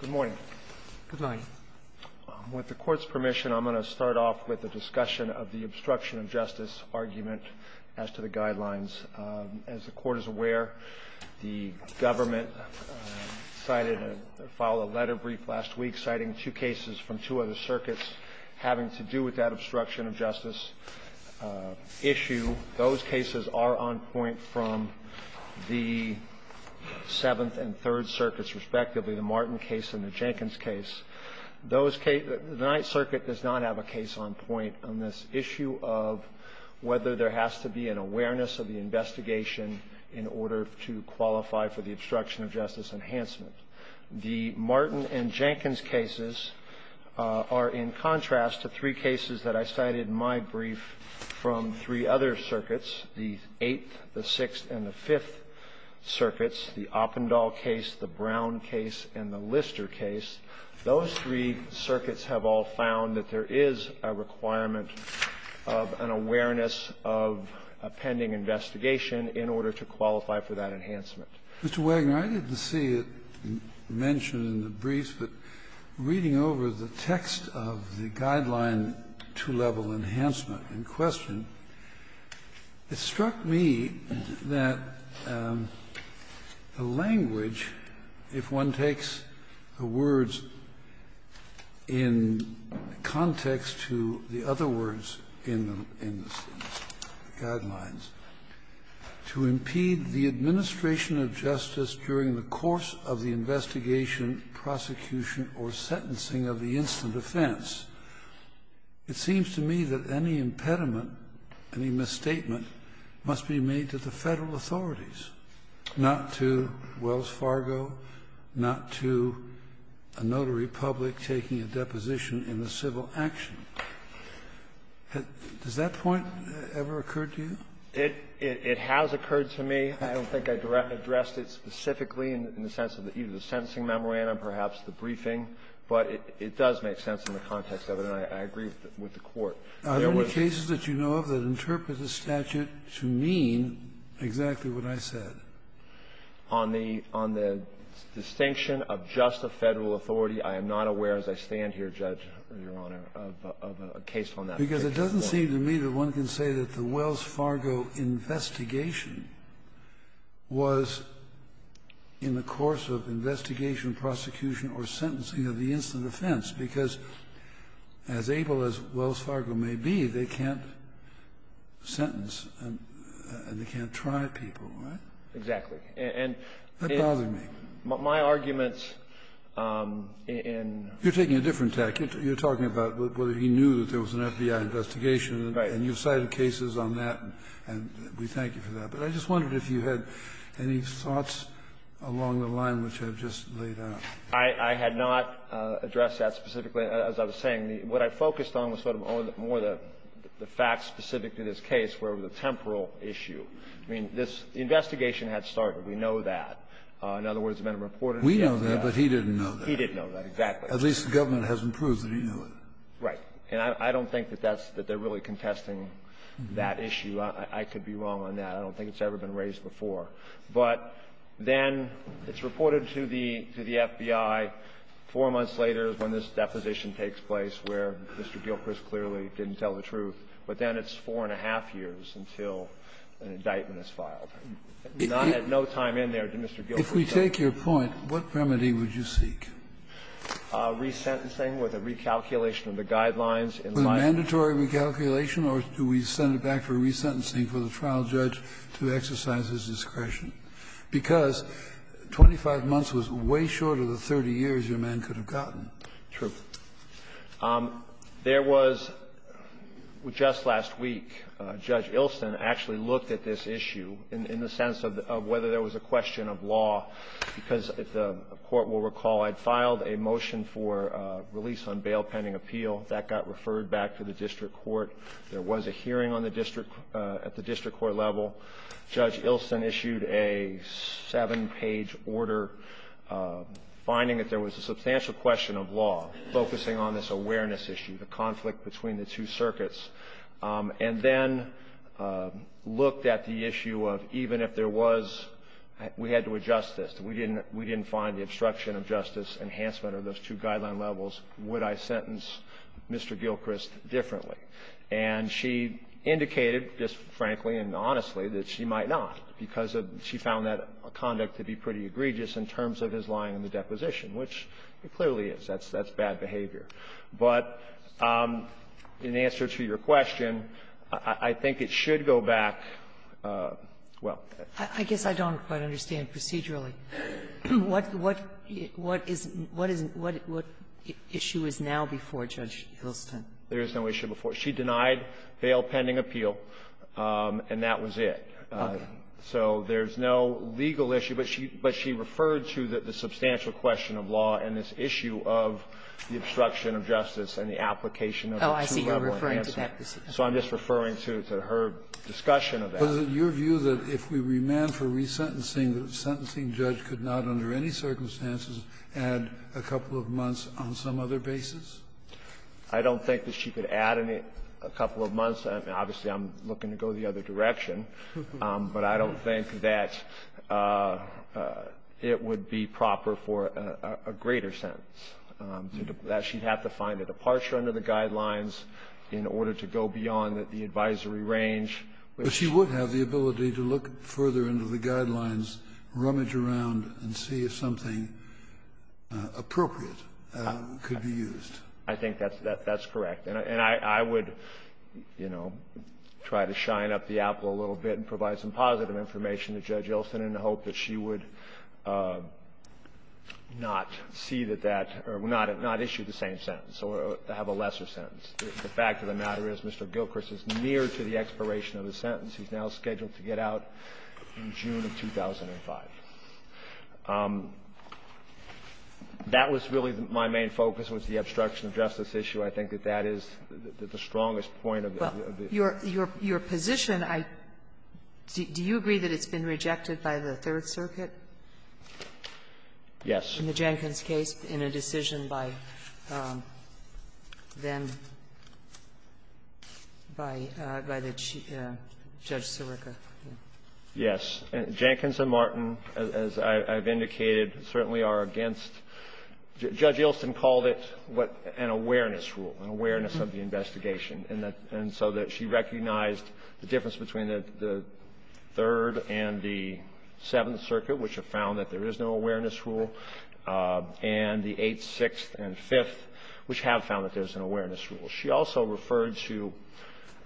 Good morning. Good night. With the Court's permission, I'm going to start off with a discussion of the obstruction of justice argument as to the guidelines. As the Court is aware, the government filed a letter brief last week citing two cases from two other circuits having to do with that obstruction of justice issue. Those cases are on point from the Seventh and Third Circuits, respectively, the Martin case and the Jenkins case. The Ninth Circuit does not have a case on point on this issue of whether there has to be an awareness of the investigation in order to qualify for the obstruction of justice enhancement. The Martin and Jenkins cases are in contrast to three cases that I cited in my brief from three other circuits, the Eighth, the Sixth, and the Fifth Circuits, the Oppendahl case, the Brown case, and the Lister case. Those three circuits have all found that there is a requirement of an awareness of a pending investigation in order to qualify for that enhancement. Mr. Wagoner, I didn't see it mentioned in the briefs, but reading over the text of the Guideline to Level Enhancement in question, it struck me that the language, if one takes the words in context to the other words in the Guidelines, to impede the administration of justice during the course of the investigation, prosecution, or sentencing of the instant offense, it seems to me that any impediment, any misstatement must be made to the Federal authorities, not to Wells Fargo, not to a notary public taking a deposition in the civil action. Does that point ever occur to you? It has occurred to me. I don't think I addressed it specifically in the sense of either the sentencing memorandum, perhaps the briefing, but it does make sense in the context of it, and I agree with the Court. There was not a case that you know of that interprets the statute to mean exactly what I said. On the distinction of just a Federal authority, I am not aware as I stand here, Judge, Your Honor, of a case on that. Because it doesn't seem to me that one can say that the Wells Fargo investigation was in the course of investigation, prosecution, or sentencing of the instant offense, because as able as Wells Fargo may be, they can't sentence and they can't try people, right? Exactly. And if my arguments in You're taking a different tack. You're talking about whether he knew that there was an FBI investigation. Right. And you cited cases on that, and we thank you for that. But I just wondered if you had any thoughts along the line which I've just laid out. I had not addressed that specifically, as I was saying. What I focused on was sort of more the facts specific to this case, where the temporal issue. I mean, this investigation had started. We know that. In other words, the men who reported it. We know that, but he didn't know that. He didn't know that, exactly. At least the government hasn't proved that he knew it. Right. And I don't think that that's the really contesting that issue. I could be wrong on that. I don't think it's ever been raised before. But then it's reported to the FBI. Four months later is when this deposition takes place, where Mr. Gilchrist clearly didn't tell the truth. But then it's four and a half years until an indictment is filed. And I had no time in there to Mr. Gilchrist tell you. If we take your point, what remedy would you seek? Resentencing with a recalculation of the guidelines in light of the law. Mandatory recalculation, or do we send it back for resentencing for the trial judge to exercise his discretion? Because 25 months was way shorter than 30 years your man could have gotten. True. There was, just last week, Judge Ilsen actually looked at this issue in the sense of whether there was a question of law, because if the Court will recall, I'd find filed a motion for release on bail pending appeal. That got referred back to the district court. There was a hearing at the district court level. Judge Ilsen issued a seven-page order finding that there was a substantial question of law, focusing on this awareness issue, the conflict between the two circuits. And then looked at the issue of even if there was, we had to adjust this. We didn't find the obstruction of justice enhancement of those two guideline levels, would I sentence Mr. Gilchrist differently? And she indicated, just frankly and honestly, that she might not, because she found that conduct to be pretty egregious in terms of his lying in the deposition, which it clearly is. That's bad behavior. But in answer to your question, I think it should go back, well ---- Sotomayor, I guess I don't quite understand procedurally what issue is now before Judge Ilsen. There is no issue before. She denied bail pending appeal, and that was it. Okay. So there's no legal issue, but she referred to the substantial question of law and this issue of the obstruction of justice and the application of the two-level enhancement. So I'm just referring to her discussion of that. Was it your view that if we remand for resentencing, the sentencing judge could not under any circumstances add a couple of months on some other basis? I don't think that she could add a couple of months. Obviously, I'm looking to go the other direction, but I don't think that it would be proper for a greater sentence, that she'd have to find a departure under the guidelines in order to go beyond the advisory range. But she would have the ability to look further into the guidelines, rummage around and see if something appropriate could be used. I think that's correct. And I would, you know, try to shine up the apple a little bit and provide some positive information to Judge Ilsen in the hope that she would not see that that or not issue the same sentence or have a lesser sentence. The fact of the matter is Mr. Gilchrist is near to the expiration of his sentence. He's now scheduled to get out in June of 2005. That was really my main focus was the obstruction of justice issue. I think that that is the strongest point of the issue. Your position, I do you agree that it's been rejected by the Third Circuit? Yes. In the Jenkins case, in a decision by then, by the Chief Judge Sirica. Yes. Jenkins and Martin, as I've indicated, certainly are against Judge Ilsen called it what an awareness rule, an awareness of the investigation, and so that she recognized the difference between the Third and the Seventh Circuit, which have found that there is no awareness rule. And the Eighth, Sixth, and Fifth, which have found that there's an awareness rule. She also referred to,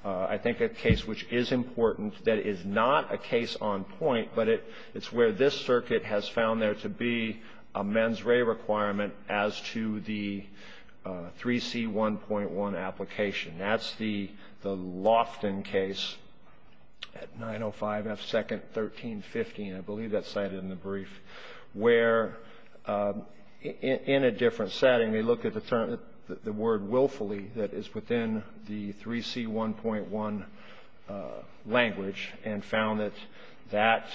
I think, a case which is important that is not a case on point, but it's where this circuit has found there to be a mens re requirement as to the 3C1.1 application. That's the Lofton case at 905 F 2nd 1350, I believe that's cited in the brief. Where in a different setting, they look at the term, the word willfully that is within the 3C1.1 language and found that that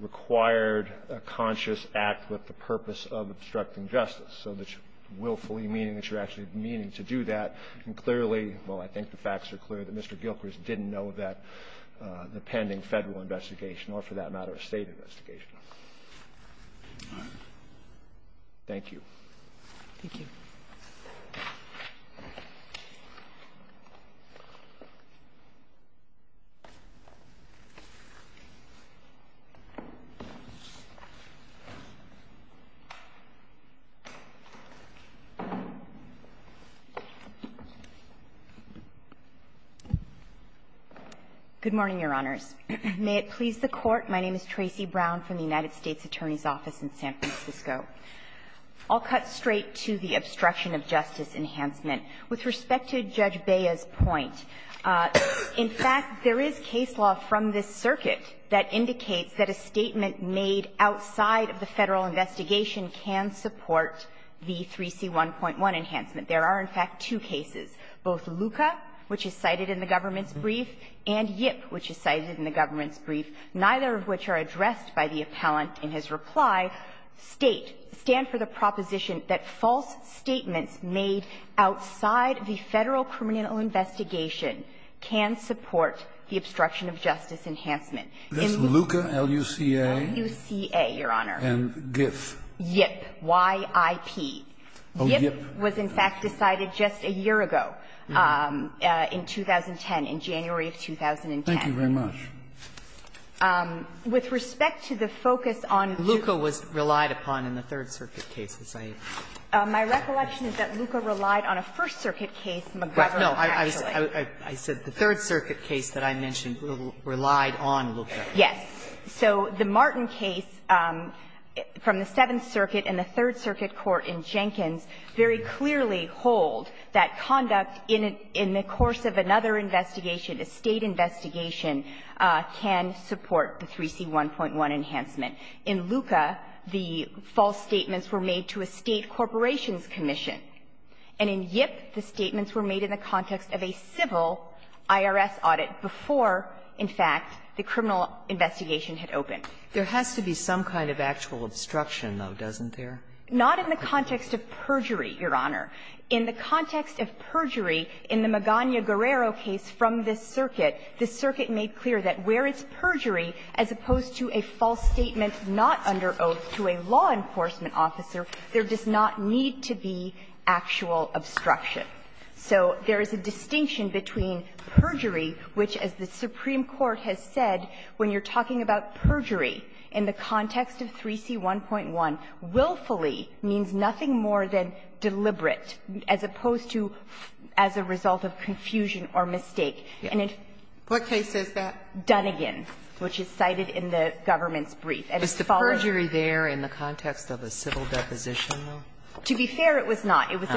required a conscious act with the purpose of obstructing justice. So willfully meaning that you're actually meaning to do that, and clearly, well, I think the facts are clear that Mr. Gilchrist didn't know that the pending federal investigation, or for that matter, a state investigation. Thank you. Thank you. Good morning, Your Honors. May it please the Court, my name is Tracy Brown from the United States Attorney's Office in San Francisco. I'll cut straight to the obstruction of justice enhancement. With respect to Judge Bea's point, in fact, there is case law from this circuit that indicates that a statement made outside of the federal investigation can support the 3C1.1 enhancement. There are, in fact, two cases, both Luca, which is cited in the government's brief, and Yip, which is cited in the government's brief, neither of which are addressed by the appellant in his reply, state, stand for the proposition that false statements made outside the federal criminal investigation can support the obstruction of justice enhancement. This is Luca, L-U-C-A? L-U-C-A, Your Honor. And GIF? Yip, Y-I-P. Oh, Yip. Yip was, in fact, decided just a year ago in 2010, in January of 2010. Thank you very much. With respect to the focus on Luca was relied upon in the Third Circuit case, Ms. Aitken. My recollection is that Luca relied on a First Circuit case, McGovern, actually. No. I said the Third Circuit case that I mentioned relied on Luca. Yes. So the Martin case from the Seventh Circuit and the Third Circuit court in Jenkins very clearly hold that conduct in the course of another investigation, a State investigation, can support the 3C1.1 enhancement. In Luca, the false statements were made to a State corporations commission. And in Yip, the statements were made in the context of a civil IRS audit before, in fact, the criminal investigation had opened. There has to be some kind of actual obstruction, though, doesn't there? Not in the context of perjury, Your Honor. In the context of perjury in the Magana-Guerrero case from this circuit, this circuit made clear that where it's perjury, as opposed to a false statement not under oath to a law enforcement officer, there does not need to be actual obstruction. So there is a distinction between perjury, which, as the Supreme Court has said, when you're talking about perjury in the context of 3C1.1, willfully means nothing more than deliberate, as opposed to as a result of confusion or mistake. And in the case of Dunigan, which is cited in the government's brief, as it follows Is the perjury there in the context of a civil deposition, though? To be fair, it was not. It was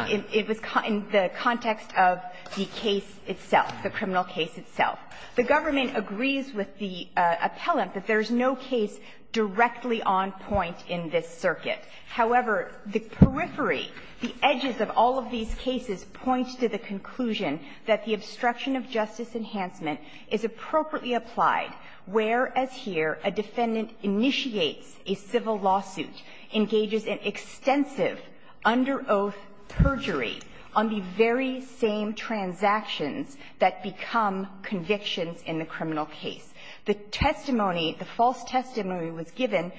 in the context of the case itself, the criminal case itself. The government agrees with the appellant that there is no case directly on point in this circuit. However, the periphery, the edges of all of these cases point to the conclusion that the obstruction of justice enhancement is appropriately applied, whereas here a defendant initiates a civil lawsuit, engages in extensive under oath perjury on the very same transactions that become convictions in the criminal case. The testimony, the false testimony was given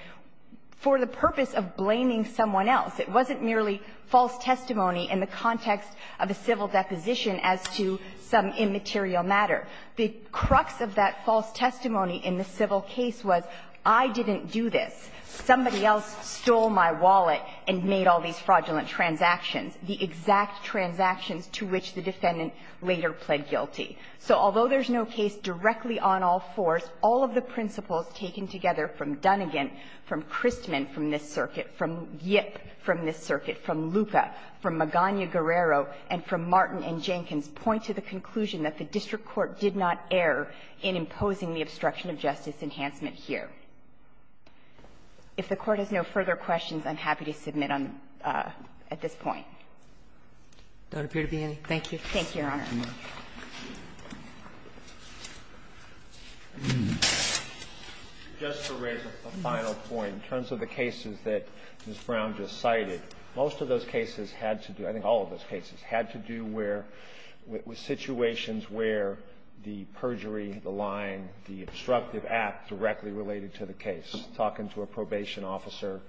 for the purpose of blaming someone else. It wasn't merely false testimony in the context of a civil deposition as to some immaterial matter. The crux of that false testimony in the civil case was, I didn't do this. Somebody else stole my wallet and made all these fraudulent transactions, the exact transactions to which the defendant later pled guilty. So although there's no case directly on all fours, all of the principles taken together from Dunnegan, from Christman from this circuit, from Yip from this circuit, from Luca, from Magana-Guerrero, and from Martin and Jenkins point to the conclusion that the district court did not err in imposing the obstruction of justice enhancement here. If the Court has no further questions, I'm happy to submit on at this point. Thank you, Your Honor. Thank you, Mr. Chief Justice. Just to raise a final point, in terms of the cases that Ms. Brown just cited, most of those cases had to do, I think all of those cases, had to do where, with situations where the perjury, the lying, the obstructive act directly related to the case. Talking to a probation officer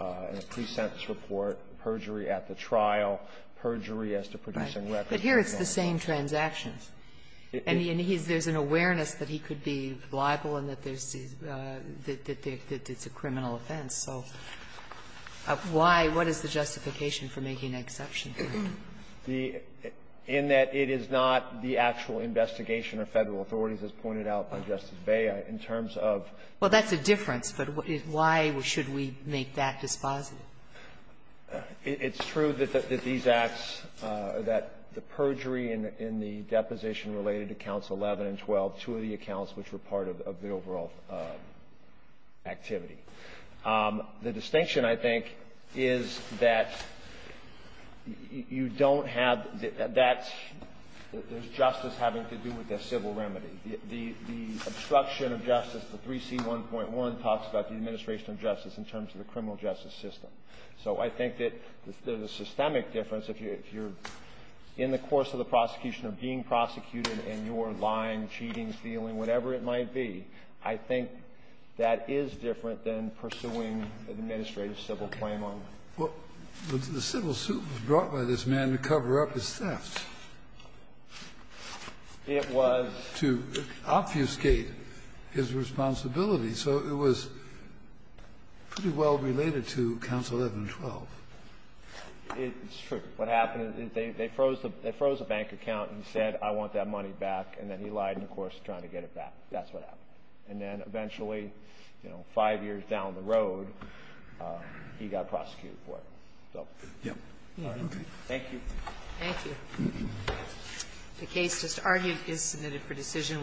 in a pre-sentence report, perjury at the trial, perjury as to producing records. But here it's the same transactions. And he's – there's an awareness that he could be liable and that there's – that it's a criminal offense. So why – what is the justification for making an exception here? The – in that it is not the actual investigation of Federal authorities, as pointed out by Justice Bey in terms of – Well, that's a difference, but why should we make that dispositive? It's true that these acts, that the perjury in the deposition related to counts 11 and 12, two of the accounts which were part of the overall activity. The distinction, I think, is that you don't have – that's – there's justice having to do with the civil remedy. The obstruction of justice, the 3C1.1, talks about the administration of justice in terms of the criminal justice system. So I think that there's a systemic difference. If you're in the course of the prosecution or being prosecuted, and you're lying, cheating, stealing, whatever it might be, I think that is different than pursuing an administrative civil claim on them. Well, the civil suit was brought by this man to cover up his theft. It was to obfuscate his responsibility. So it was pretty well related to counts 11 and 12. It's true. What happened is they froze the bank account and said, I want that money back, and then he lied in the course of trying to get it back. That's what happened. And then eventually, you know, five years down the road, he got prosecuted for it. So, yeah. Thank you. Thank you. The case just argued is submitted for decision.